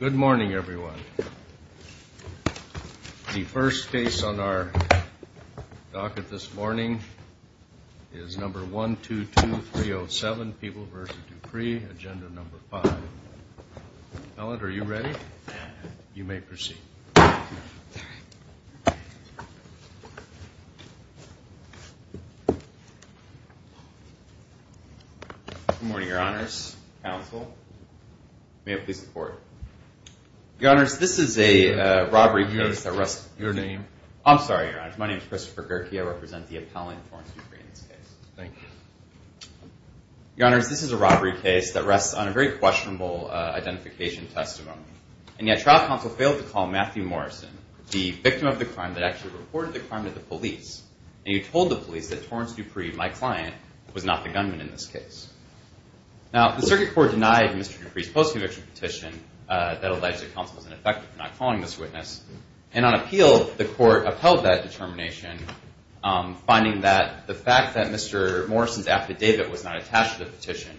Good morning, everyone. The first case on our docket this morning is number 122307, People v. DuPree, Agenda No. 5. Ellen, are you ready? You may proceed. Good morning, Your Honors. Counsel, may I please the Court? Your Honors, this is a robbery case that rests on a very questionable, identification testimony. And yet, trial counsel failed to call Matthew Morrison, the victim of the crime, that actually reported the crime to the police. And you told the police that Torrance DuPree, my client, was not the gunman in this case. Now, the Circuit Court denied Mr. DuPree's post-conviction petition that alleged that counsel was ineffective for not calling this witness. And on appeal, the Court upheld that determination, finding that the fact that Mr. Morrison's affidavit was not attached to the petition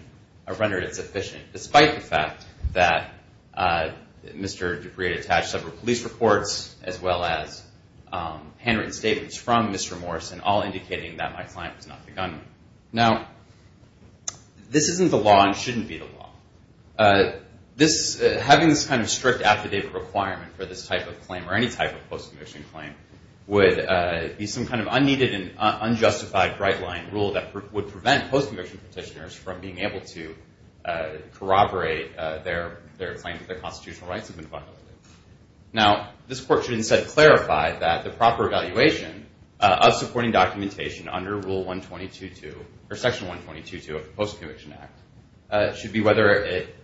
rendered it sufficient, despite the fact that Mr. DuPree had attached several police reports as well as handwritten statements from Mr. Morrison, all indicating that my client was not the gunman. Now, this isn't the law and shouldn't be the law. Having this kind of strict affidavit requirement for this type of claim, or any type of post-conviction claim, would be some kind of unneeded and unjustified bright-line rule that would prevent post-conviction petitioners from being able to corroborate their claim that their constitutional rights have been violated. Now, this Court should instead clarify that the proper evaluation of supporting documentation under Rule 122-2, or Section 122-2 of the Post-Conviction Act, should be whether it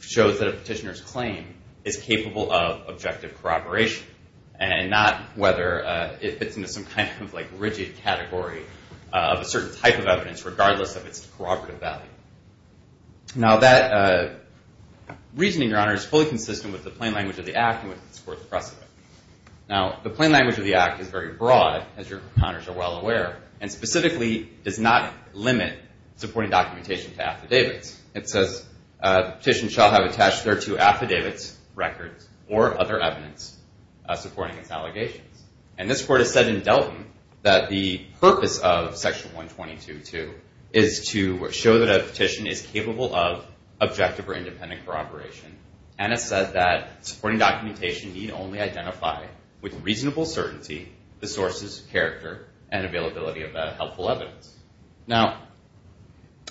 shows that a petitioner's claim is capable of objective corroboration, and not whether it fits into some kind of rigid category of a certain type of evidence, regardless of its corroborative value. Now, that reasoning, Your Honor, is fully consistent with the plain language of the Act and with this Court's precedent. Now, the plain language of the Act is very broad, as Your Honors are well aware, and specifically does not limit supporting documentation to affidavits. It says, the petition shall have attached thereto affidavits, records, or other evidence supporting its allegations. And this Court has said in Delton that the purpose of Section 122-2 is to show that a petition is capable of objective or independent corroboration, and has said that supporting documentation need only identify with reasonable certainty the sources, character, and availability of helpful evidence. Now,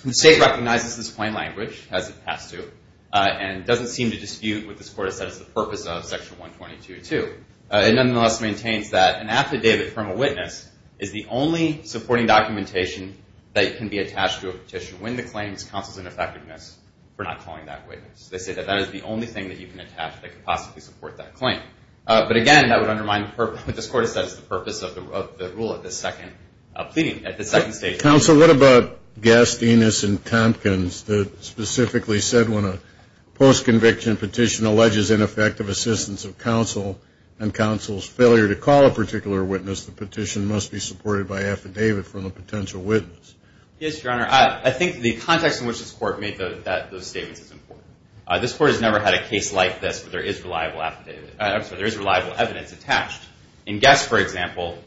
the State recognizes this plain language, as it has to, and doesn't seem to dispute what this Court has said is the purpose of Section 122-2. It nonetheless maintains that an affidavit from a witness is the only supporting documentation that can be attached to a petition when the claim is counseled in effectiveness for not calling that witness. They say that that is the only thing that you can attach that could possibly support that claim. But again, that would undermine what this Court has said is the purpose of the rule at this second stage. Counsel, what about Gastinus and Tompkins that specifically said when a post-conviction petition alleges ineffective assistance of counsel and counsel's failure to call a particular witness, the petition must be supported by affidavit from a potential witness? Yes, Your Honor. I think the context in which this Court made those statements is important. This Court has never had a case like this where there is reliable evidence attached. In Gast, for example,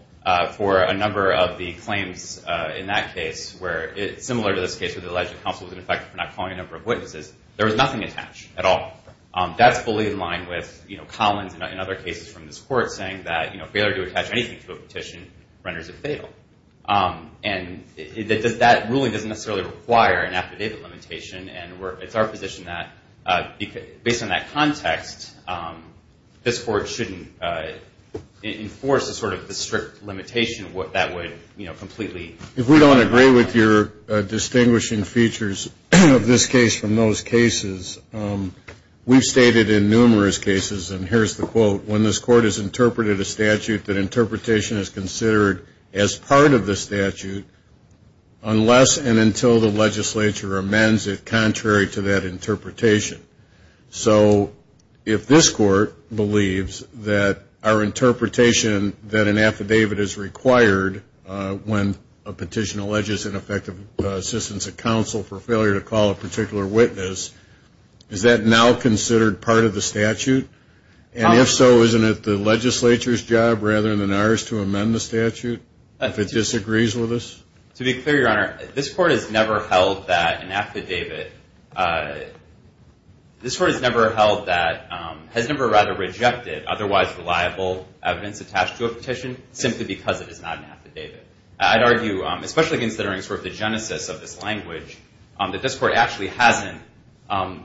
for a number of the claims in that case, similar to this case where the alleged counsel was ineffective for not calling a number of witnesses, there was nothing attached at all. That's fully in line with Collins and other cases from this Court saying that failure to attach anything to a petition renders it fatal. And that ruling doesn't necessarily require an affidavit limitation. And it's our position that based on that context, this Court shouldn't enforce a sort of strict limitation that would completely If we don't agree with your distinguishing features of this case from those cases, we've stated in numerous cases, and here's the quote, when this Court has interpreted a statute, that interpretation is considered as part of the statute unless and until the legislature amends it contrary to that interpretation. So if this Court believes that our interpretation that an affidavit is required when a petition alleges ineffective assistance of counsel for failure to call a particular witness, is that now considered part of the statute? And if so, isn't it the legislature's job rather than ours to amend the statute if it disagrees with us? To be clear, Your Honor, this Court has never held that an affidavit This Court has never held that, has never rather rejected otherwise reliable evidence attached to a petition simply because it is not an affidavit. I'd argue, especially considering sort of the genesis of this language, that this Court actually hasn't,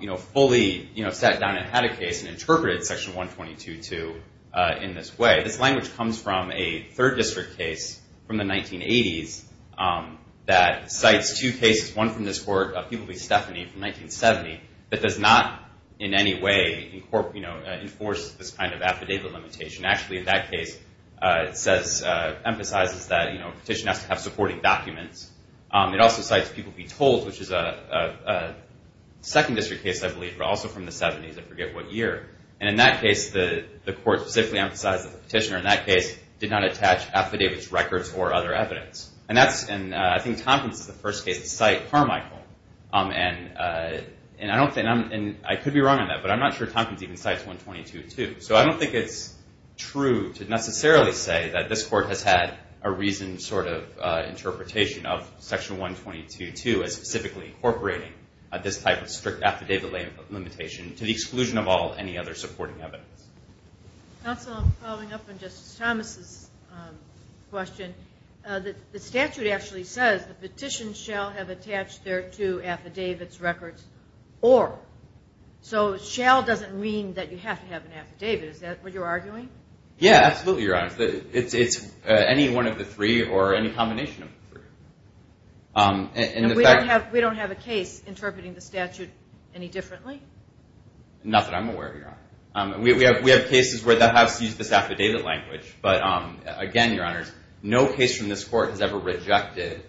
you know, fully, you know, sat down and had a case and interpreted Section 122-2 in this way. This language comes from a 3rd District case from the 1980s that cites two cases, one from this Court, a People v. Stephanie from 1970, that does not in any way, you know, enforce this kind of affidavit limitation. Actually, in that case, it says, emphasizes that, you know, a petition has to have supporting documents. It also cites People v. Towles, which is a 2nd District case, I believe, but also from the 70s, I forget what year. And in that case, the Court specifically emphasized that the petitioner in that case did not attach affidavits, records, or other evidence. And that's, and I think Tompkins is the first case to cite Carmichael. And I don't think, and I could be wrong on that, but I'm not sure Tompkins even cites 122-2. So I don't think it's true to necessarily say that this Court has had a reasoned sort of interpretation of Section 122-2 as specifically incorporating this type of strict affidavit limitation to the exclusion of all any other supporting evidence. Counsel, I'm following up on Justice Thomas' question. The statute actually says the petition shall have attached thereto affidavits, records, or. So shall doesn't mean that you have to have an affidavit. Is that what you're arguing? Yeah, absolutely, Your Honor. It's any one of the three or any combination of the three. And we don't have a case interpreting the statute any differently? Not that I'm aware of, Your Honor. We have cases where the House used this affidavit language. But again, Your Honors, no case from this Court has ever rejected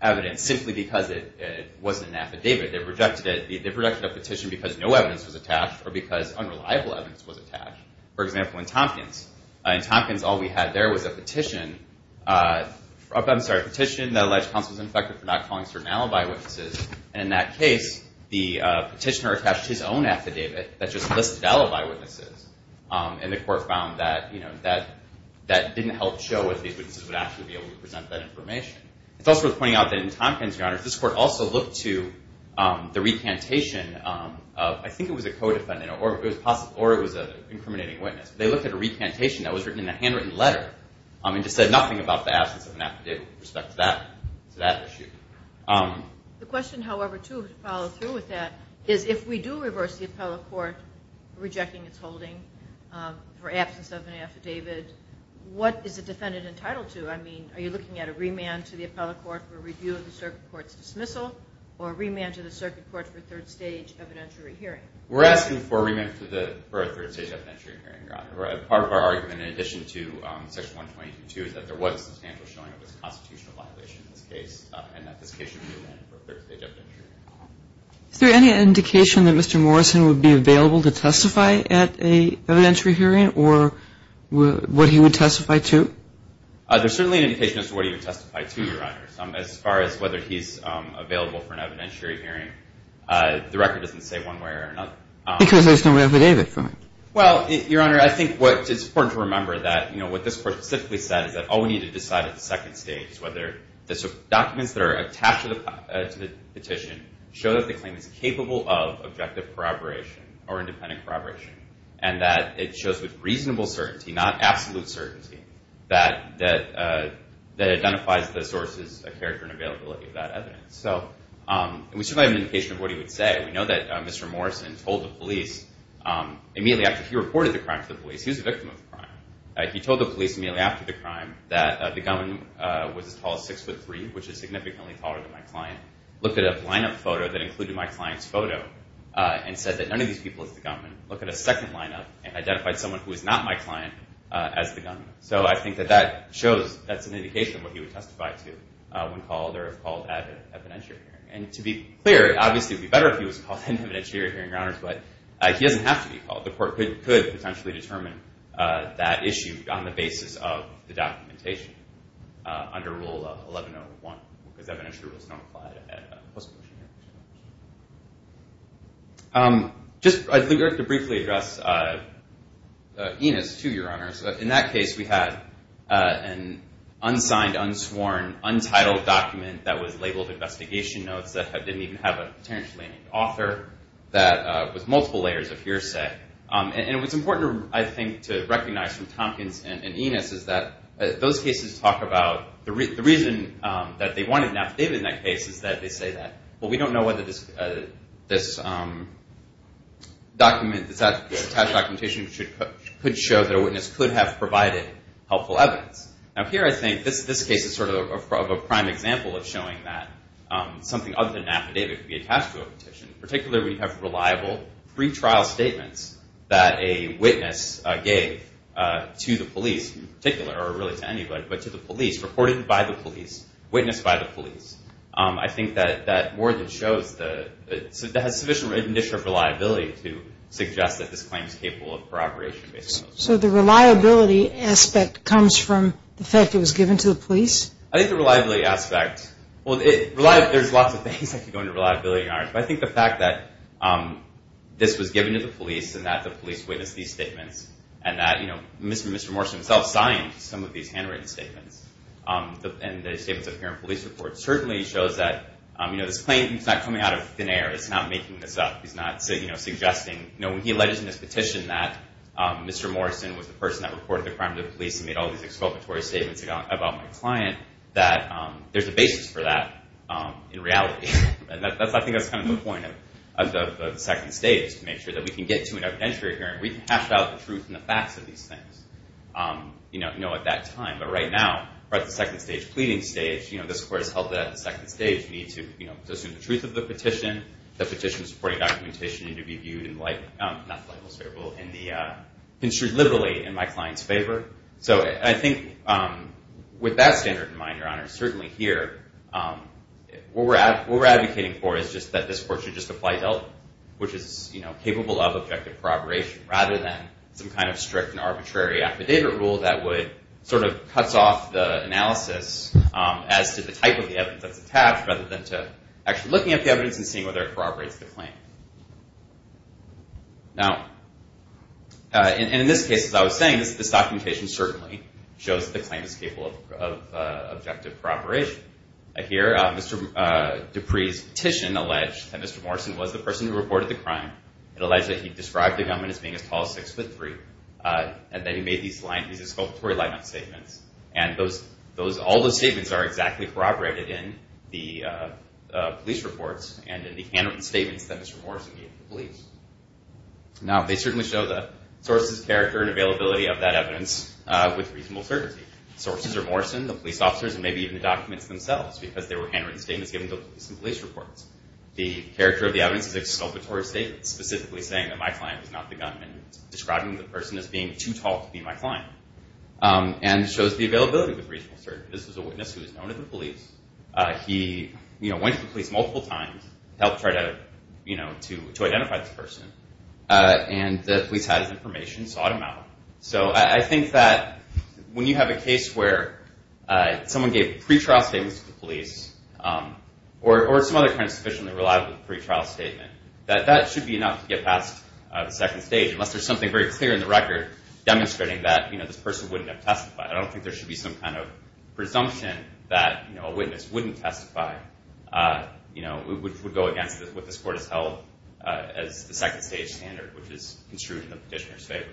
evidence simply because it wasn't an affidavit. They've rejected it. They've rejected a petition because no evidence was attached or because unreliable evidence was attached. For example, in Tompkins. In Tompkins, all we had there was a petition that alleged counsel was infected for not calling certain alibi witnesses. And in that case, the petitioner attached his own affidavit that just listed alibi witnesses. And the Court found that that didn't help show if these witnesses would actually be able to present that information. It's also worth pointing out that in Tompkins, Your Honors, this Court also looked to the recantation of, I think it was a co-defendant or it was an incriminating witness. They looked at a recantation that was written in a handwritten letter and just said nothing about the absence of an affidavit with respect to that issue. The question, however, too, to follow through with that, is if we do reverse the appellate court rejecting its holding for absence of an affidavit, what is the defendant entitled to? I mean, are you looking at a remand to the appellate court for review of the circuit court's dismissal or a remand to the circuit court for a third-stage evidentiary hearing? We're asking for a remand for a third-stage evidentiary hearing, Your Honor. Part of our argument, in addition to Section 122, is that there was a substantial showing of this constitutional violation in this case and that this case should be remanded for a third-stage evidentiary hearing. Is there any indication that Mr. Morrison would be available to testify at an evidentiary hearing or would he testify to? There's certainly an indication as to what he would testify to, Your Honor. As far as whether he's available for an evidentiary hearing, the record doesn't say one way or another. Because there's no affidavit for him. Well, Your Honor, I think what is important to remember that, you know, what this Court specifically said is that all we need to decide at the second stage is whether the documents that are attached to the petition show that the claim is capable of objective corroboration or independent corroboration and that it shows with reasonable certainty, not absolute certainty, that identifies the sources of character and availability of that evidence. And we certainly have an indication of what he would say. We know that Mr. Morrison told the police immediately after he reported the crime to the police, he was a victim of the crime, he told the police immediately after the crime that the gunman was as tall as 6'3", which is significantly taller than my client, looked at a line-up photo that included my client's photo and said that none of these people is the gunman, looked at a second line-up and identified someone who is not my client as the gunman. So I think that that shows, that's an indication of what he would testify to when called or if called at an evidentiary hearing. And to be clear, obviously it would be better if he was called at an evidentiary hearing, Your Honor, but he doesn't have to be called. The Court could potentially determine that issue on the basis of the documentation under Rule 1101, because evidentiary rules don't apply at a postmortem hearing. Just, I think I have to briefly address Enos, too, Your Honors. In that case, we had an unsigned, unsworn, untitled document that was labeled investigation notes that didn't even have a potentially author, that was multiple layers of hearsay. And what's important, I think, to recognize from Tompkins and Enos is that those cases talk about, the reason that they wanted an affidavit in that case is that they say that, well, we don't know whether this attached documentation could show that a witness could have provided helpful evidence. Now, here I think this case is sort of a prime example of showing that something other than an affidavit could be attached to a petition, particularly when you have reliable pre-trial statements that a witness gave to the police in particular, or really to anybody, but to the police, reported by the police, witnessed by the police. I think that more than shows the, that has sufficient initial reliability to suggest that this claim is capable of corroboration. So the reliability aspect comes from the fact it was given to the police? I think the reliability aspect, well, there's lots of things that could go into reliability, Your Honors. But I think the fact that this was given to the police, and that the police witnessed these statements, and that Mr. Morrison himself signed some of these handwritten statements, and the statements appear in police reports, certainly shows that this claim is not coming out of thin air. It's not making this up. He's not suggesting, when he alleged in his petition that Mr. Morrison was the person that reported the crime to the police and made all these exculpatory statements about my client, that there's a basis for that in reality. I think that's kind of the point of the second stage, to make sure that we can get to an evidentiary hearing. We can hash out the truth and the facts of these things at that time. But right now, we're at the second stage, pleading stage. This Court has held that at the second stage, we need to assume the truth of the petition, the petition's supporting documentation, and to be viewed in the light, not the light most favorable, in the, construed liberally in my client's favor. So I think with that standard in mind, Your Honors, certainly here, what we're advocating for is just that this Court should just apply help, which is capable of objective corroboration, rather than some kind of strict and arbitrary affidavit rule that would, sort of cuts off the analysis as to the type of evidence that's attached, rather than to actually looking at the evidence and seeing whether it corroborates the claim. Now, in this case, as I was saying, this documentation certainly shows that the claim is capable of objective corroboration. Here, Mr. Dupree's petition alleged that Mr. Morrison was the person who reported the crime. It alleged that he described the young man as being as tall as six foot three, and that he made these exculpatory line-up statements. And all those statements are exactly corroborated in the police reports and in the handwritten statements that Mr. Morrison gave to the police. Now, they certainly show the source's character and availability of that evidence with reasonable certainty. Sources are Morrison, the police officers, and maybe even the documents themselves, because they were handwritten statements given to the police in police reports. The character of the evidence is exculpatory statements, specifically saying that my client was not the gunman, describing the person as being too tall to be my client. And it shows the availability with reasonable certainty. This was a witness who was known to the police. He went to the police multiple times, helped try to identify this person, and the police had his information, sought him out. So I think that when you have a case where someone gave pretrial statements to the police, or some other kind of suspicion that relied on a pretrial statement, that that should be enough to get past the second stage, unless there's something very clear in the record demonstrating that this person wouldn't have testified. I don't think there should be some kind of presumption that a witness wouldn't testify, which would go against what this court has held as the second stage standard, which is construed in the petitioner's favor.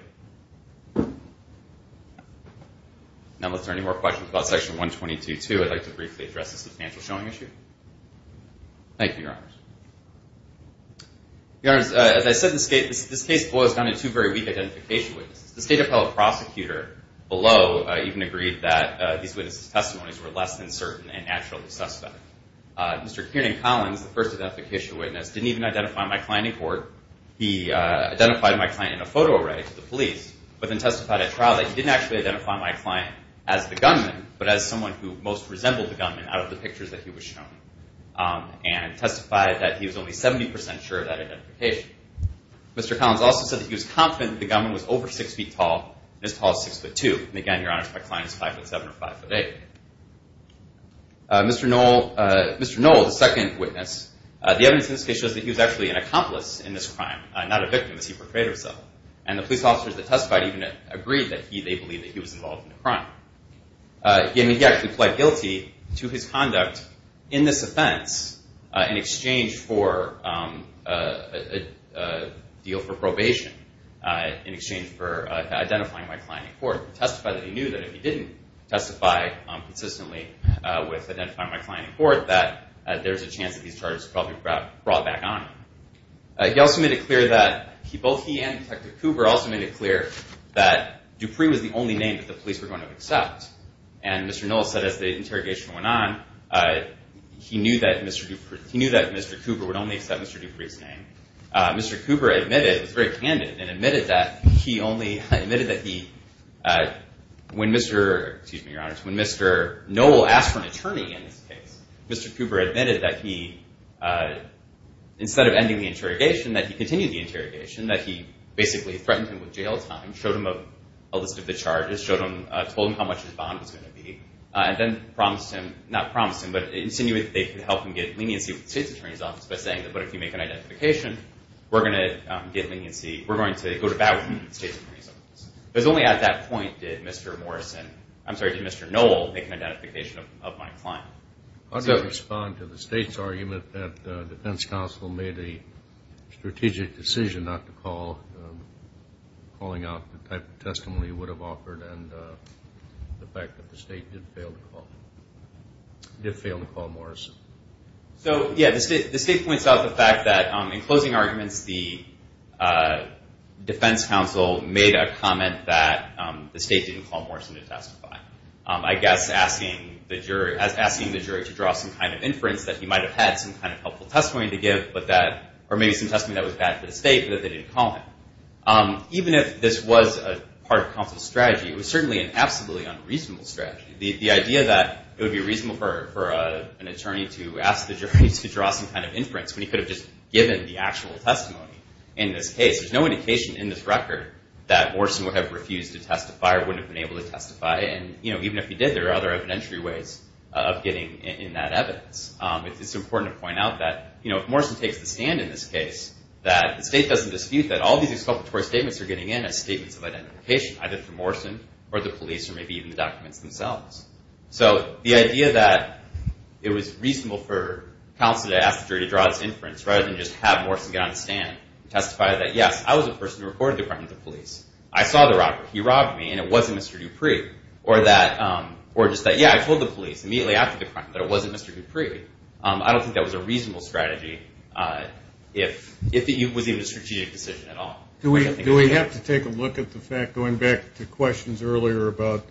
Now, if there are any more questions about Section 122-2, I'd like to briefly address the substantial showing issue. Thank you, Your Honors. Your Honors, as I said, this case boils down to two very weak identification witnesses. The state appellate prosecutor below even agreed that these witnesses' testimonies were less than certain and naturally suspect. Mr. Kiernan Collins, the first identification witness, didn't even identify my client in court. He identified my client in a photo array to the police but then testified at trial that he didn't actually identify my client as the gunman but as someone who most resembled the gunman out of the pictures that he was shown and testified that he was only 70% sure of that identification. Mr. Collins also said that he was confident that the gunman was over 6 feet tall and as tall as 6 foot 2. And again, Your Honors, my client is 5 foot 7 or 5 foot 8. Mr. Noel, the second witness, the evidence in this case shows that he was actually an accomplice in this crime, not a victim as he portrayed himself. And the police officers that testified even agreed that they believed that he was involved in the crime. He actually pled guilty to his conduct in this offense in exchange for a deal for probation, in exchange for identifying my client in court. He testified that he knew that if he didn't testify consistently with identifying my client in court that there's a chance that these charges would probably be brought back on him. He also made it clear that, both he and Detective Cooper, also made it clear that Dupree was the only name that the police were going to accept. And Mr. Noel said as the interrogation went on, he knew that Mr. Cooper would only accept Mr. Dupree's name. Mr. Cooper admitted, it was very candid, and admitted that he only, admitted that he, when Mr. Noel asked for an attorney in this case, Mr. Cooper admitted that he, instead of ending the interrogation, that he continued the interrogation, that he basically threatened him with jail time, showed him a list of the charges, told him how much his bond was going to be, and then promised him, not promised him, but insinuated that they could help him get leniency with the State's Attorney's Office by saying, but if you make an identification, we're going to get leniency, we're going to go to bat with the State's Attorney's Office. It was only at that point did Mr. Morrison, I'm sorry, did Mr. Noel make an identification of my client. How do you respond to the State's argument that the defense counsel made a strategic decision not to call, calling out the type of testimony he would have offered, and the fact that the State did fail to call, did fail to call Morrison? So, yeah, the State points out the fact that, in closing arguments, the defense counsel made a comment that the State didn't call Morrison to testify. I guess asking the jury to draw some kind of inference that he might have had some kind of helpful testimony to give, or maybe some testimony that was bad for the State, but that they didn't call him. Even if this was part of counsel's strategy, it was certainly an absolutely unreasonable strategy. The idea that it would be reasonable for an attorney to ask the jury to draw some kind of inference when he could have just given the actual testimony in this case. There's no indication in this record that Morrison would have refused to testify or wouldn't have been able to testify, and even if he did, there are other evidentiary ways of getting in that evidence. It's important to point out that, you know, if Morrison takes the stand in this case, that the State doesn't dispute that all these exculpatory statements are getting in as statements of identification, either for Morrison or the police or maybe even the documents themselves. So the idea that it was reasonable for counsel to ask the jury to draw its inference rather than just have Morrison get on the stand and testify that, yes, I was the person who recorded the crime to the police. I saw the robbery. He robbed me, and it wasn't Mr. Dupree. Or just that, yeah, I told the police immediately after the crime that it wasn't Mr. Dupree. I don't think that was a reasonable strategy if it was even a strategic decision at all. Do we have to take a look at the fact, going back to questions earlier about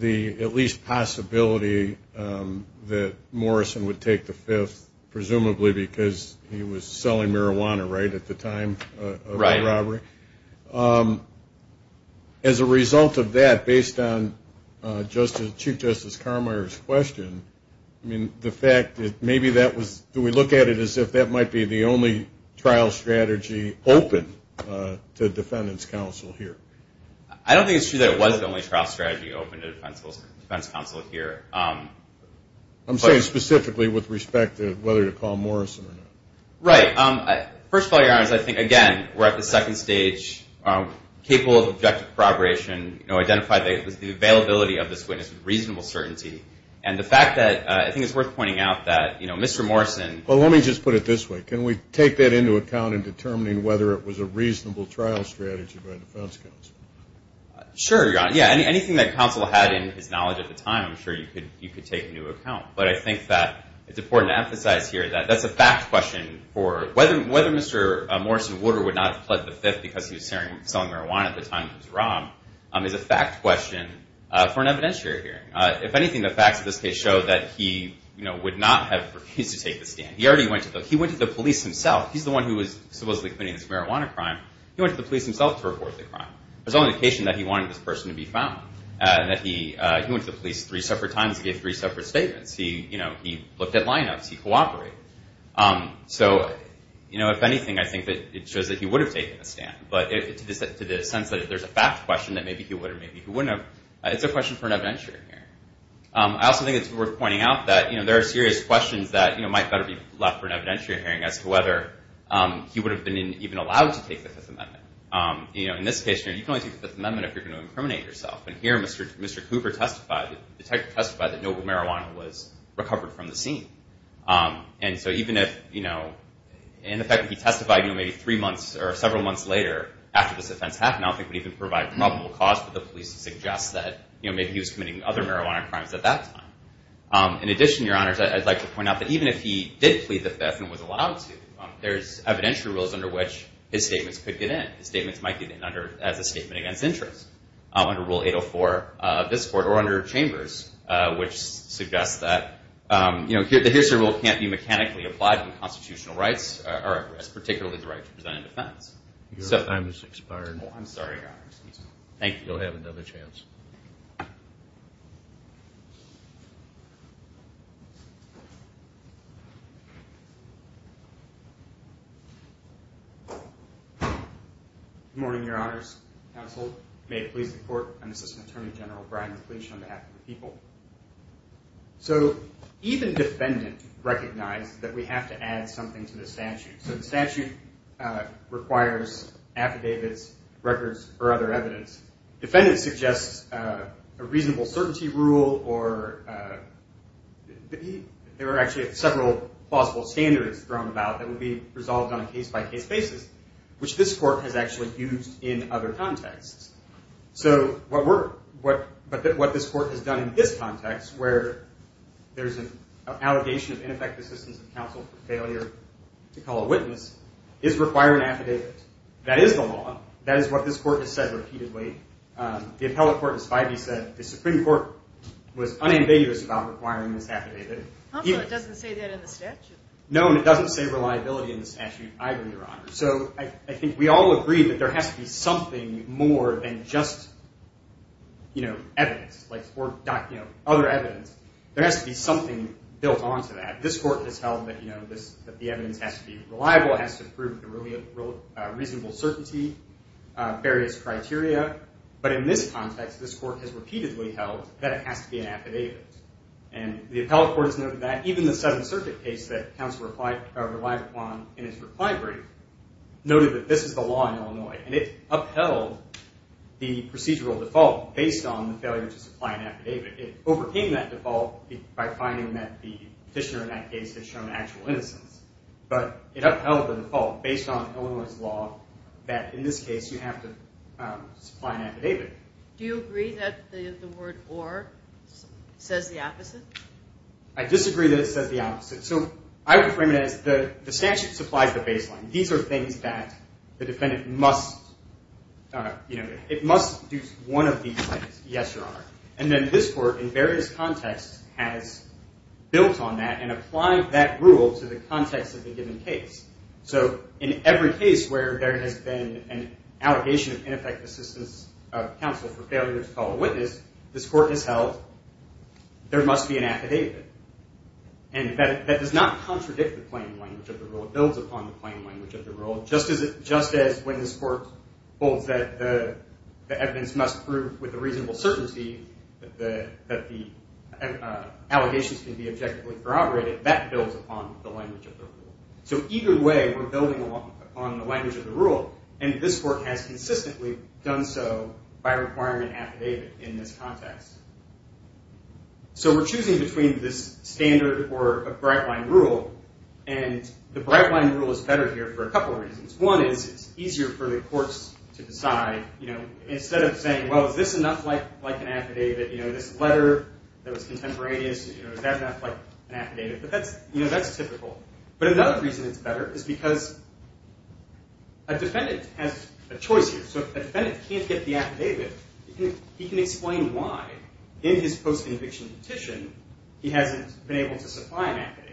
the at least possibility that Morrison would take the fifth, presumably because he was selling marijuana, right, at the time of the robbery? As a result of that, based on Chief Justice Carmeier's question, I mean, the fact that maybe that was... Do we look at it as if that might be the only trial strategy open to defendant's counsel here? I don't think it's true that it was the only trial strategy open to defense counsel here. I'm saying specifically with respect to whether to call Morrison or not. Right. First of all, Your Honor, I think, again, we're at the second stage, capable of objective corroboration, identified the availability of this witness with reasonable certainty. And the fact that... I think it's worth pointing out that Mr. Morrison... Well, let me just put it this way. Can we take that into account in determining whether it was a reasonable trial strategy by defense counsel? Sure, Your Honor. Yeah, anything that counsel had in his knowledge at the time, I'm sure you could take into account. But I think that it's important to emphasize here that that's a fact question for... Whether Mr. Morrison-Wooder would not have pled the fifth because he was selling marijuana at the time he was robbed is a fact question for an evidentiary hearing. If anything, the facts of this case show that he would not have refused to take the stand. He already went to the... He went to the police himself. He's the one who was supposedly committing this marijuana crime. He went to the police himself to report the crime. There's no indication that he wanted this person to be found. He went to the police three separate times and gave three separate statements. He looked at lineups. He cooperated. So, if anything, I think that it shows that he would have taken the stand. But to the sense that there's a fact question that maybe he would or maybe he wouldn't have, it's a question for an evidentiary hearing. I also think it's worth pointing out that there are serious questions that might better be left for an evidentiary hearing as to whether he would have been even allowed to take the Fifth Amendment. In this case, you can only take the Fifth Amendment if you're going to incriminate yourself. And here, Mr. Cooper testified... The detective testified that noble marijuana was recovered from the scene. And so, even if... And the fact that he testified maybe three months or several months later after this offense happened, I don't think it would even provide probable cause for the police to suggest that maybe he was committing other marijuana crimes at that time. In addition, Your Honors, I'd like to point out that even if he did plead the Fifth and was allowed to, there's evidentiary rules under which his statements could get in. His statements might get in as a statement against interest under Rule 804 of this Court, or under Chambers, which suggests that the history rule can't be mechanically applied to constitutional rights, or particularly the right to present a defense. Your time has expired. Oh, I'm sorry, Your Honors. Thank you. You'll have another chance. Good morning, Your Honors. Counsel may please report. I'm Assistant Attorney General Brian McLeish on behalf of the people. So, even defendant recognized that we have to add something to the statute. So the statute requires affidavits, records, or other evidence. Defendant suggests a reasonable certainty rule, or there are actually several possible standards thrown about that would be resolved on a case-by-case basis, which this Court has actually used in other contexts. So what this Court has done in this context, where there's an allegation of ineffective assistance of counsel for failure to call a witness, is require an affidavit. That is the law. That is what this Court has said repeatedly. The appellate court has said the Supreme Court was unambiguous about requiring this affidavit. Counsel, it doesn't say that in the statute. No, and it doesn't say reliability in the statute either, Your Honor. So I think we all agree that there has to be something more than just evidence, or other evidence. There has to be something built onto that. This Court has held that the evidence has to be reliable, has to prove a reasonable certainty, various criteria. But in this context, this Court has repeatedly held that it has to be an affidavit. And the appellate court has noted that even the Seventh Circuit case that counsel relied upon in his reply brief noted that this is the law in Illinois. And it upheld the procedural default based on the failure to supply an affidavit. It overcame that default by finding that the petitioner in that case had shown actual innocence. But it upheld the default based on Illinois' law that in this case you have to supply an affidavit. Do you agree that the word or says the opposite? I disagree that it says the opposite. So I would frame it as the statute supplies the baseline. These are things that the defendant must, you know, it must do one of these things, yes, Your Honor. And then this Court in various contexts has built on that and applied that rule to the context of the given case. So in every case where there has been an allegation of ineffective assistance of counsel for failure to call a witness, this Court has held there must be an affidavit. And that does not contradict the plain language of the rule. It builds upon the plain language of the rule. Just as when this Court holds that the evidence must prove with a reasonable certainty that the allegations can be objectively corroborated, that builds upon the language of the rule. So either way we're building upon the language of the rule. And this Court has consistently done so by requiring an affidavit in this context. So we're choosing between this standard or a bright-line rule. And the bright-line rule is better here for a couple of reasons. One is it's easier for the courts to decide, you know, instead of saying, well, is this enough like an affidavit, you know, this letter that was contemporaneous, is that enough like an affidavit? But that's typical. But another reason it's better is because a defendant has a choice here. So if a defendant can't get the affidavit, he can explain why, in his post-inviction petition, he hasn't been able to supply an affidavit.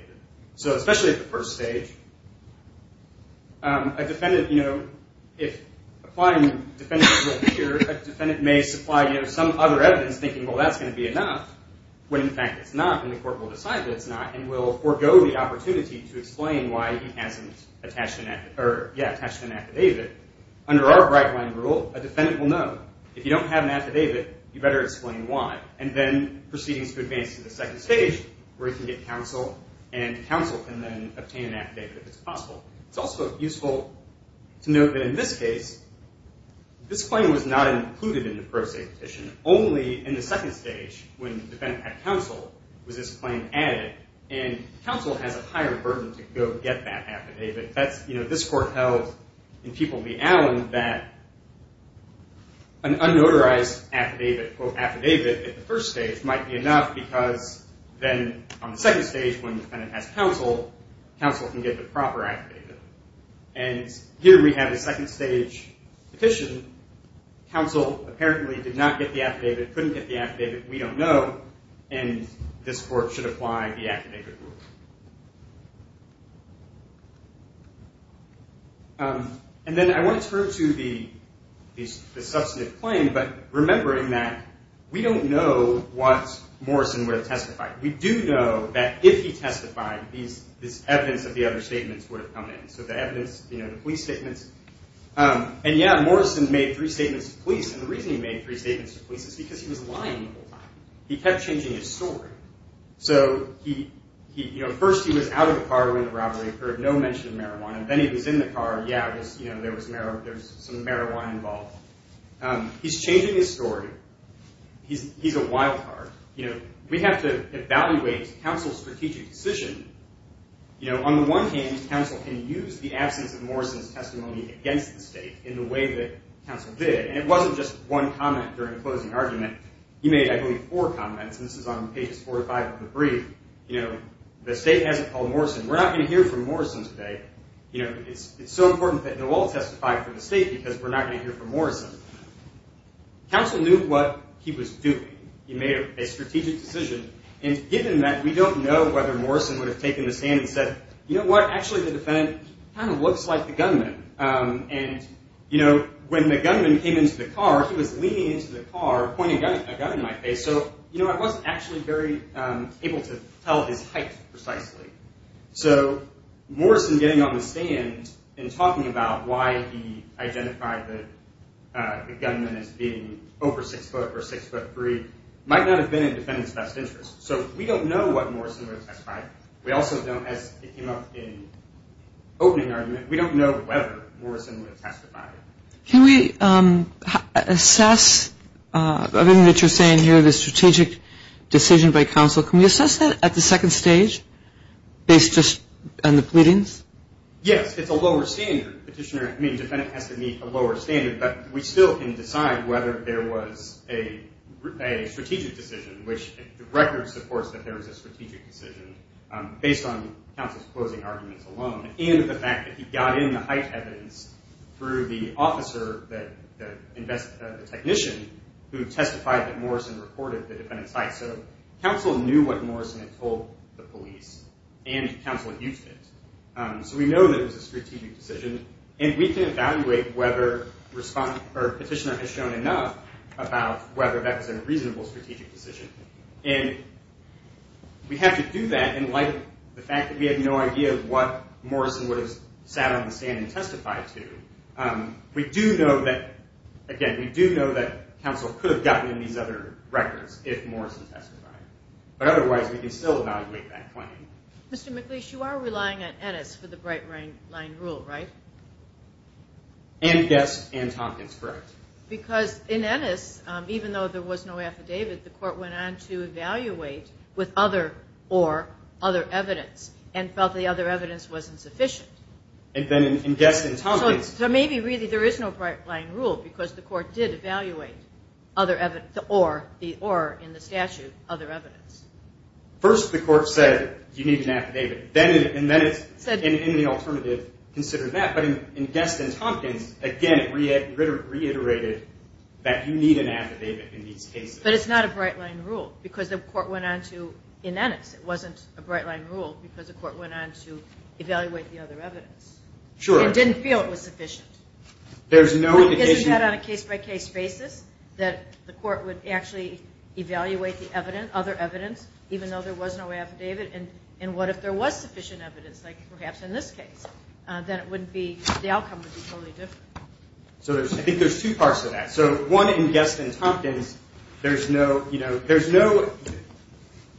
So especially at the first stage, a defendant, you know, if applying the defendant's rule here, a defendant may supply, you know, some other evidence, thinking, well, that's going to be enough, when in fact it's not, and the Court will decide that it's not and will forego the opportunity to explain why he hasn't attached an affidavit. Under our bright-line rule, a defendant will know, if you don't have an affidavit, you better explain why, and then proceedings could advance to the second stage where he can get counsel, and counsel can then obtain an affidavit if it's possible. It's also useful to note that in this case, this claim was not included in the pro se petition. Only in the second stage, when the defendant had counsel, was this claim added, and counsel has a higher burden to go get that affidavit. That's, you know, this Court held in People v. Allen that an unnotarized affidavit, quote, affidavit, at the first stage might be enough, because then on the second stage, when the defendant has counsel, counsel can get the proper affidavit. And here we have a second stage petition. Counsel apparently did not get the affidavit, couldn't get the affidavit, we don't know, and this Court should apply the affidavit rule. And then I want to turn to the substantive claim, but remembering that we don't know what Morrison would have testified. We do know that if he testified, this evidence of the other statements would have come in. So the evidence, you know, the police statements. And yeah, Morrison made three statements to police, and the reason he made three statements to police is because he was lying the whole time. He kept changing his story. So, you know, first he was out of the car when the robbery occurred, no mention of marijuana. Then he was in the car, yeah, there was some marijuana involved. He's changing his story. He's a wild card. You know, we have to evaluate counsel's strategic decision. You know, on the one hand, counsel can use the absence of Morrison's testimony against the state in the way that counsel did, and it wasn't just one comment during the closing argument. He made, I believe, four comments, and this is on pages four to five of the brief. You know, the state hasn't called Morrison. We're not going to hear from Morrison today. You know, it's so important that they'll all testify for the state because we're not going to hear from Morrison. Counsel knew what he was doing. He made a strategic decision, and given that we don't know whether Morrison would have taken the stand and said, you know what, actually the defendant kind of looks like the gunman. And, you know, when the gunman came into the car, he was leaning into the car, pointing a gun at my face. So, you know, I wasn't actually very able to tell his height precisely. So Morrison getting on the stand and talking about why he identified the gunman as being over six foot or six foot three might not have been in the defendant's best interest. So we don't know what Morrison would have testified. We also don't, as it came up in the opening argument, we don't know whether Morrison would have testified. Can we assess, other than what you're saying here, the strategic decision by counsel, can we assess that at the second stage based just on the pleadings? Yes, it's a lower standard. I mean, the defendant has to meet a lower standard, but we still can decide whether there was a strategic decision, which the record supports that there was a strategic decision based on counsel's closing arguments alone and the fact that he got in the height evidence through the officer, the technician, who testified that Morrison reported the defendant's height. So counsel knew what Morrison had told the police, and counsel used it. So we know that it was a strategic decision, and we can evaluate whether petitioner has shown enough about whether that was a reasonable strategic decision. And we have to do that in light of the fact that we have no idea of what Morrison would have sat on the stand and testified to. We do know that, again, we do know that counsel could have gotten in these other records if Morrison testified. But otherwise, we can still evaluate that claim. Mr. McLeish, you are relying on Ennis for the bright line rule, right? And Guest and Tompkins, correct. Because in Ennis, even though there was no affidavit, the court went on to evaluate with other or, other evidence, and felt the other evidence wasn't sufficient. And then in Guest and Tompkins... So maybe really there is no bright line rule because the court did evaluate the or in the statute, other evidence. First, the court said you need an affidavit, and then it said in the alternative, consider that. But in Guest and Tompkins, again, it reiterated that you need an affidavit in these cases. But it's not a bright line rule because the court went on to, in Ennis, it wasn't a bright line rule because the court went on to evaluate the other evidence. Sure. And didn't feel it was sufficient. There's no indication... Isn't that on a case-by-case basis that the court would actually evaluate the evidence, other evidence, even though there was no affidavit? And what if there was sufficient evidence, like perhaps in this case? Then it wouldn't be, the outcome would be totally different. So I think there's two parts to that. So one, in Guest and Tompkins, there's no, you know, there's no...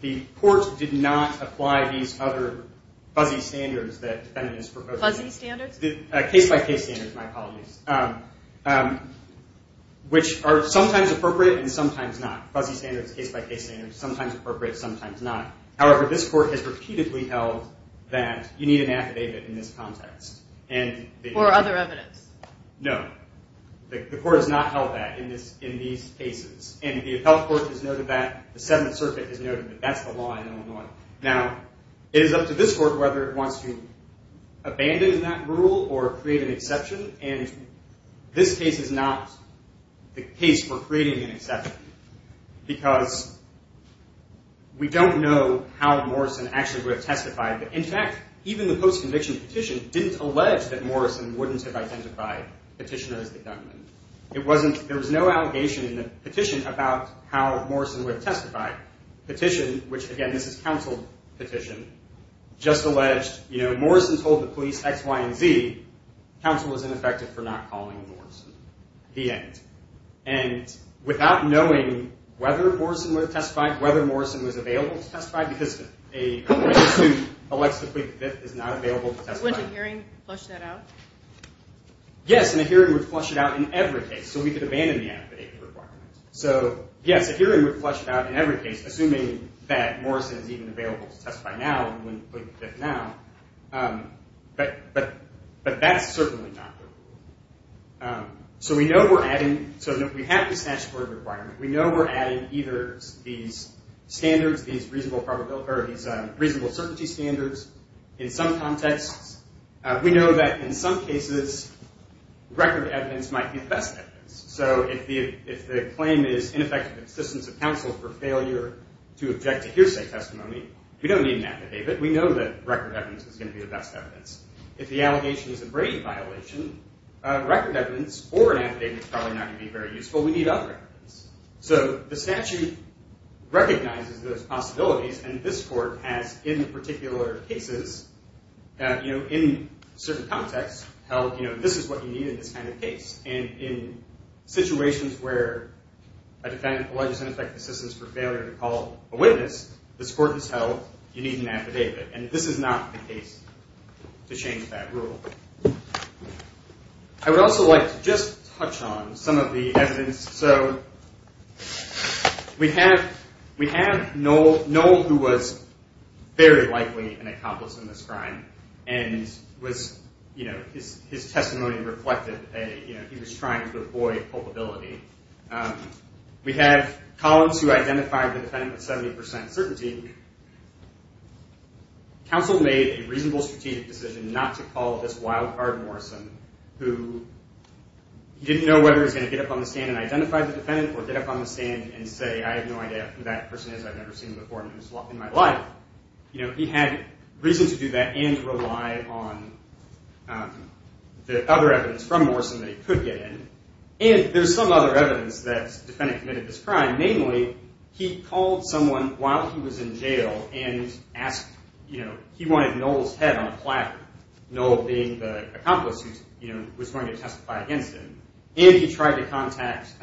The court did not apply these other fuzzy standards that defendants proposed. Fuzzy standards? Case-by-case standards, my apologies. Which are sometimes appropriate and sometimes not. Fuzzy standards, case-by-case standards, sometimes appropriate, sometimes not. However, this court has repeatedly held that you need an affidavit in this context. Or other evidence. No. The court has not held that in these cases. And the Appellate Court has noted that, the Seventh Circuit has noted that that's the law in Illinois. Now, it is up to this court whether it wants to abandon that rule or create an exception. And this case is not the case for creating an exception. Because we don't know how Morrison actually would have testified. In fact, even the post-conviction petition didn't allege that Morrison wouldn't have identified Petitioner as the gunman. It wasn't, there was no allegation in the petition about how Morrison would have testified. Petition, which again, this is counseled petition, just alleged, you know, Morrison told the police X, Y, and Z, counsel was ineffective for not calling Morrison. The end. And without knowing whether Morrison would have testified, whether Morrison was available to testify, because a person who elects to plead the fifth is not available to testify. Wouldn't a hearing flush that out? Yes, and a hearing would flush it out in every case. So we could abandon the affidavit requirement. So, yes, a hearing would flush it out in every case, assuming that Morrison is even available to testify now and wouldn't plead the fifth now. But that's certainly not the rule. So we know we're adding, so we have this statutory requirement. We know we're adding either these standards, these reasonable probability, or these reasonable certainty standards in some contexts. We know that in some cases record evidence might be the best evidence. So if the claim is ineffective assistance of counsel for failure to object to hearsay testimony, we don't need an affidavit. We know that record evidence is going to be the best evidence. If the allegation is a Brady violation, record evidence or an affidavit is probably not going to be very useful. We need other evidence. So the statute recognizes those possibilities, and this court has in particular cases, you know, in certain contexts, held, you know, this is what you need in this kind of case. And in situations where a defendant alleges ineffective assistance for failure to call a witness, this court has held you need an affidavit. And this is not the case to change that rule. I would also like to just touch on some of the evidence. So we have Noel who was very likely an accomplice in this crime and was, you know, his testimony reflected a, you know, he was trying to avoid culpability. We have Collins who identified the defendant with 70% certainty. Counsel made a reasonable strategic decision not to call this wild card Morrison who didn't know whether he was going to get up on the stand and identify the defendant or get up on the stand and say, I have no idea who that person is. I've never seen him before in my life. You know, he had reason to do that and rely on the other evidence from Morrison that he could get in. And there's some other evidence that the defendant committed this crime. Namely, he called someone while he was in jail and asked, you know, he wanted Noel's head on a platter, Noel being the accomplice who, you know, was going to testify against him. And he tried to contact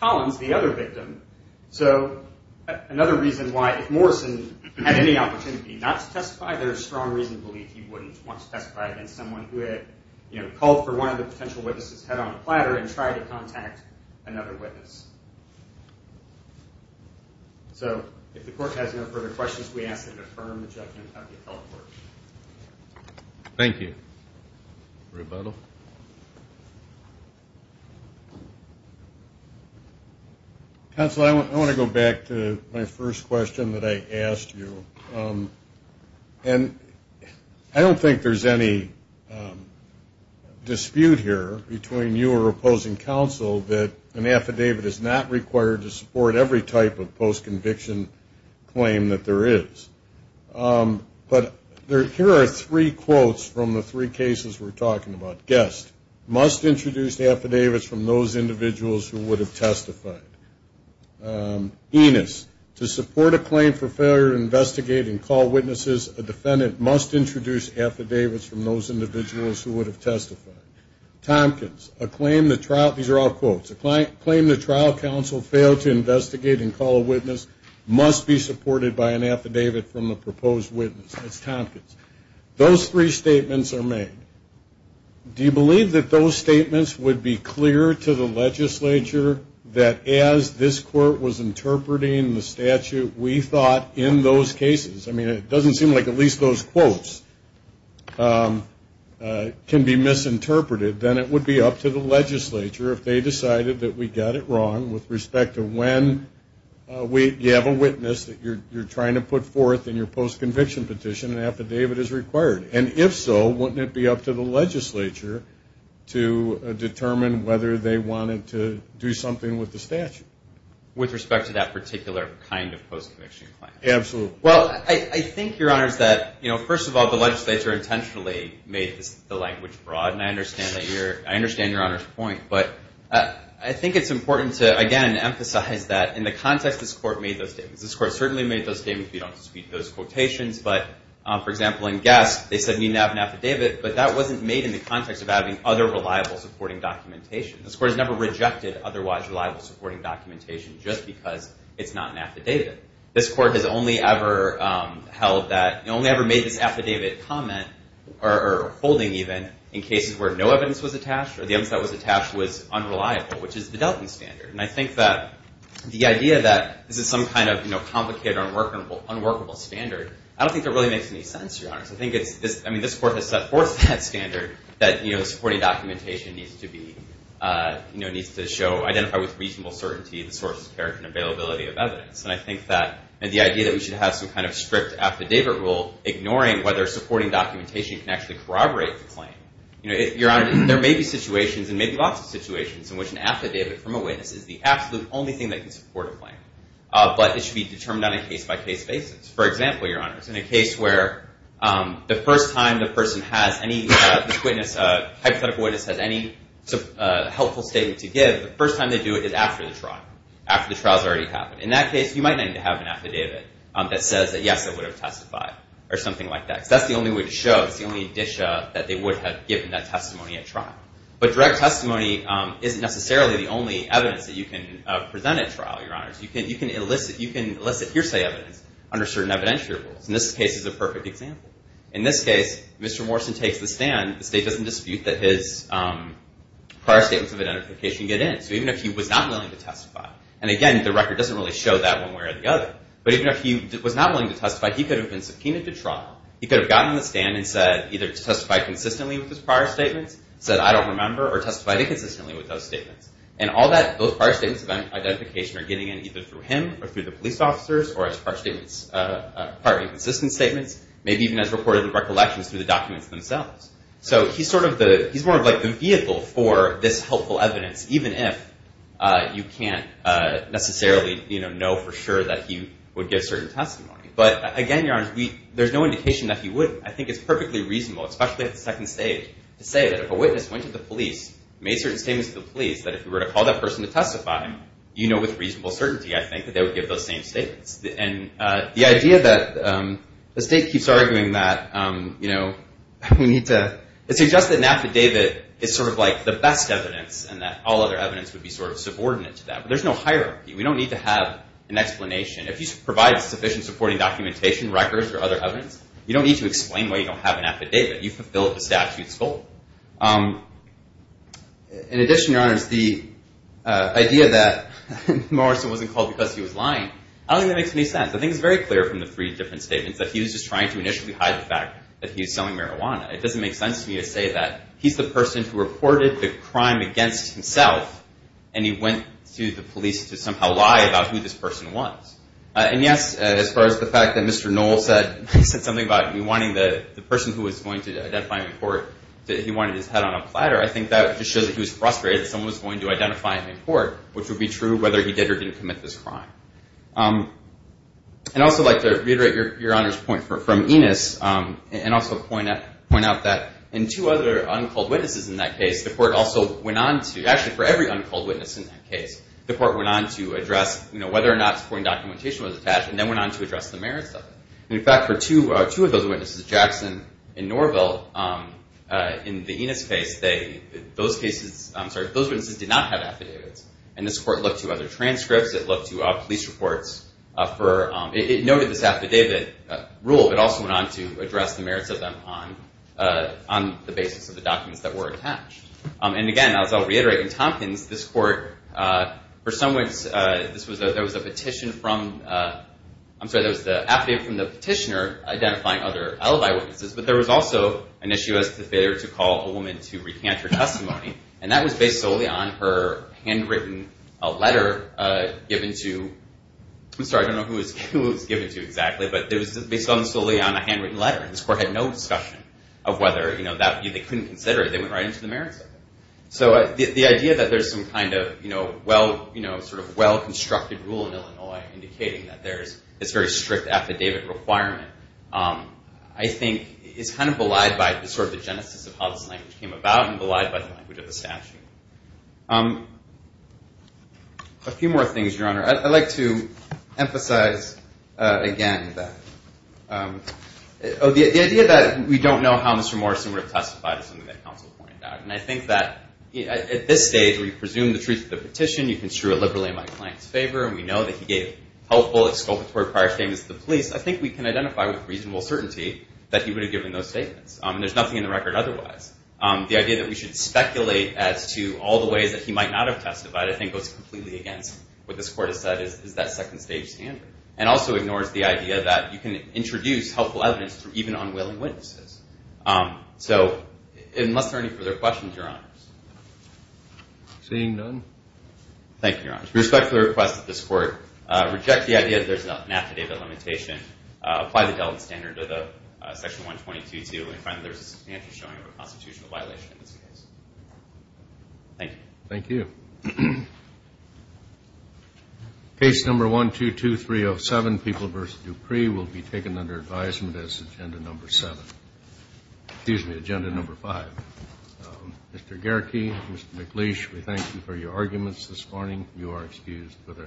Collins, the other victim. So another reason why if Morrison had any opportunity not to testify, there's strong reason to believe he wouldn't want to testify against someone who had, you know, called for one of the potential witnesses' head on a platter and tried to contact another witness. So if the court has no further questions, we ask that you affirm the judgment of the appellate court. Thank you. Rebuttal. Counsel, I want to go back to my first question that I asked you. And I don't think there's any dispute here between you or opposing counsel that an affidavit is not required to support every type of post-conviction claim that there is. But here are three quotes from the three cases we're talking about. Guest, must introduce affidavits from those individuals who would have testified. Enos, to support a claim for failure to investigate and call witnesses, a defendant must introduce affidavits from those individuals who would have testified. Tompkins, a claim the trial, these are all quotes, a claim the trial counsel failed to investigate and call a witness must be supported by an affidavit from the proposed witness. That's Tompkins. Those three statements are made. Do you believe that those statements would be clear to the legislature that as this court was interpreting the statute, we thought in those cases, I mean, it doesn't seem like at least those quotes can be misinterpreted, then it would be up to the legislature if they decided that we got it wrong with respect to when you have a witness that you're trying to put forth in your post-conviction petition, an affidavit is required. And if so, wouldn't it be up to the legislature to determine whether they wanted to do something with the statute? With respect to that particular kind of post-conviction claim? Absolutely. Well, I think, Your Honors, that, you know, first of all, the legislature intentionally made the language broad, and I understand Your Honor's point, but I think it's important to, again, emphasize that in the context this court made those statements. This court certainly made those statements if you don't dispute those quotations, but, for example, in Guest, they said we need to have an affidavit, but that wasn't made in the context of having other reliable supporting documentation. This court has never rejected otherwise reliable supporting documentation just because it's not an affidavit. This court has only ever held that, only ever made this affidavit comment, or holding even, in cases where no evidence was attached or the evidence that was attached was unreliable, which is the Delton standard. And I think that the idea that this is some kind of, you know, complicated, unworkable standard, I don't think that really makes any sense, Your Honors. I think it's, I mean, this court has set forth that standard that, you know, supporting documentation needs to be, you know, needs to show, identify with reasonable certainty the source, character, and availability of evidence. And I think that the idea that we should have some kind of strict affidavit rule, ignoring whether supporting documentation can actually corroborate the claim, you know, Your Honor, there may be situations, and maybe lots of situations, in which an affidavit from a witness is the absolute only thing that can support a claim, but it should be determined on a case-by-case basis. For example, Your Honors, in a case where the first time the person has any, this witness, hypothetical witness, has any helpful statement to give, the first time they do it is after the trial, after the trial's already happened. In that case, you might need to have an affidavit that says that, yes, it would have testified, or something like that. Because that's the only way to show, it's the only dish that they would have given that testimony at trial. But direct testimony isn't necessarily the only evidence that you can present at trial, Your Honors. You can elicit, you can elicit hearsay evidence under certain evidentiary rules. And this case is a perfect example. In this case, Mr. Morrison takes the stand. The state doesn't dispute that his prior statements of identification get in. So even if he was not willing to testify, and again, the record doesn't really show that one way or the other. But even if he was not willing to testify, he could have been subpoenaed to trial. He could have gotten on the stand and said, either testified consistently with his prior statements, said, I don't remember, or testified inconsistently with those statements. And all that, those prior statements of identification are getting in either through him, or through the police officers, or as prior statements, prior inconsistent statements, maybe even as recorded recollections through the documents themselves. So he's sort of the, he's more of like the vehicle for this helpful evidence, even if you can't necessarily, you know, know for sure that he would give certain testimony. But again, Your Honor, we, there's no indication that he wouldn't. I think it's perfectly reasonable, especially at the second stage, to say that if a witness went to the police, made certain statements to the police, that if we were to call that person to testify, you know with reasonable certainty, I think, that they would give those same statements. And the idea that the state keeps arguing that, you know, we need to, it suggests that an affidavit is sort of like the best evidence, and that all other evidence would be sort of subordinate to that. But there's no hierarchy. We don't need to have an explanation. If you provide sufficient supporting documentation, records, or other evidence, you don't need to explain why you don't have an affidavit. You fulfill the statute's goal. In addition, Your Honors, the idea that Morrison wasn't called because he was lying, I don't think that makes any sense. I think it's very clear from the three different statements that he was just trying to initially hide the fact that he was selling marijuana. It doesn't make sense to me to say that he's the person who reported the crime against himself, and he went to the police to somehow lie about who this person was. And, yes, as far as the fact that Mr. Knoll said something about wanting the person who was going to identify him in court, that he wanted his head on a platter, I think that just shows that he was frustrated that someone was going to identify him in court, which would be true whether he did or didn't commit this crime. I'd also like to reiterate Your Honor's point from Enos, and also point out that in two other uncalled witnesses in that case, the court also went on to, actually for every uncalled witness in that case, the court went on to address whether or not supporting documentation was attached, and then went on to address the merits of it. In fact, for two of those witnesses, Jackson and Norville, in the Enos case, those witnesses did not have affidavits. And this court looked to other transcripts. It looked to police reports. It noted this affidavit rule, but also went on to address the merits of them on the basis of the documents that were attached. And, again, as I'll reiterate, in Tompkins, this court, for some reason, there was an affidavit from the petitioner identifying other alibi witnesses, but there was also an issue as to the failure to call a woman to recant her testimony, and that was based solely on her handwritten letter given to, I'm sorry, I don't know who it was given to exactly, but it was based solely on a handwritten letter, and this court had no discussion of whether they couldn't consider it. They went right into the merits of it. So the idea that there's some kind of well-constructed rule in Illinois indicating that there's this very strict affidavit requirement, I think is kind of belied by sort of the genesis of how this language came about and belied by the language of the statute. A few more things, Your Honor. I'd like to emphasize again that the idea that we don't know how Mr. Morrison would have testified is something that counsel pointed out, and I think that at this stage where you presume the truth of the petition, you can strew it liberally in my client's favor, and we know that he gave helpful exculpatory prior statements to the police, I think we can identify with reasonable certainty that he would have given those statements, and there's nothing in the record otherwise. The idea that we should speculate as to all the ways that he might not have testified I think goes completely against what this court has said is that second-stage standard and also ignores the idea that you can introduce helpful evidence through even unwilling witnesses. So unless there are any further questions, Your Honors. Seeing none. Thank you, Your Honors. With respect to the request that this court reject the idea that there's an affidavit limitation, apply the Delta standard to the section 122-2 and find that there's a substantial showing of a constitutional violation in this case. Thank you. Thank you. Case number 122-307, People v. Dupree, will be taken under advisement as agenda number 7. Excuse me, agenda number 5. Mr. Gehrke, Mr. McLeish, we thank you for your arguments this morning. You are excused for their thanks.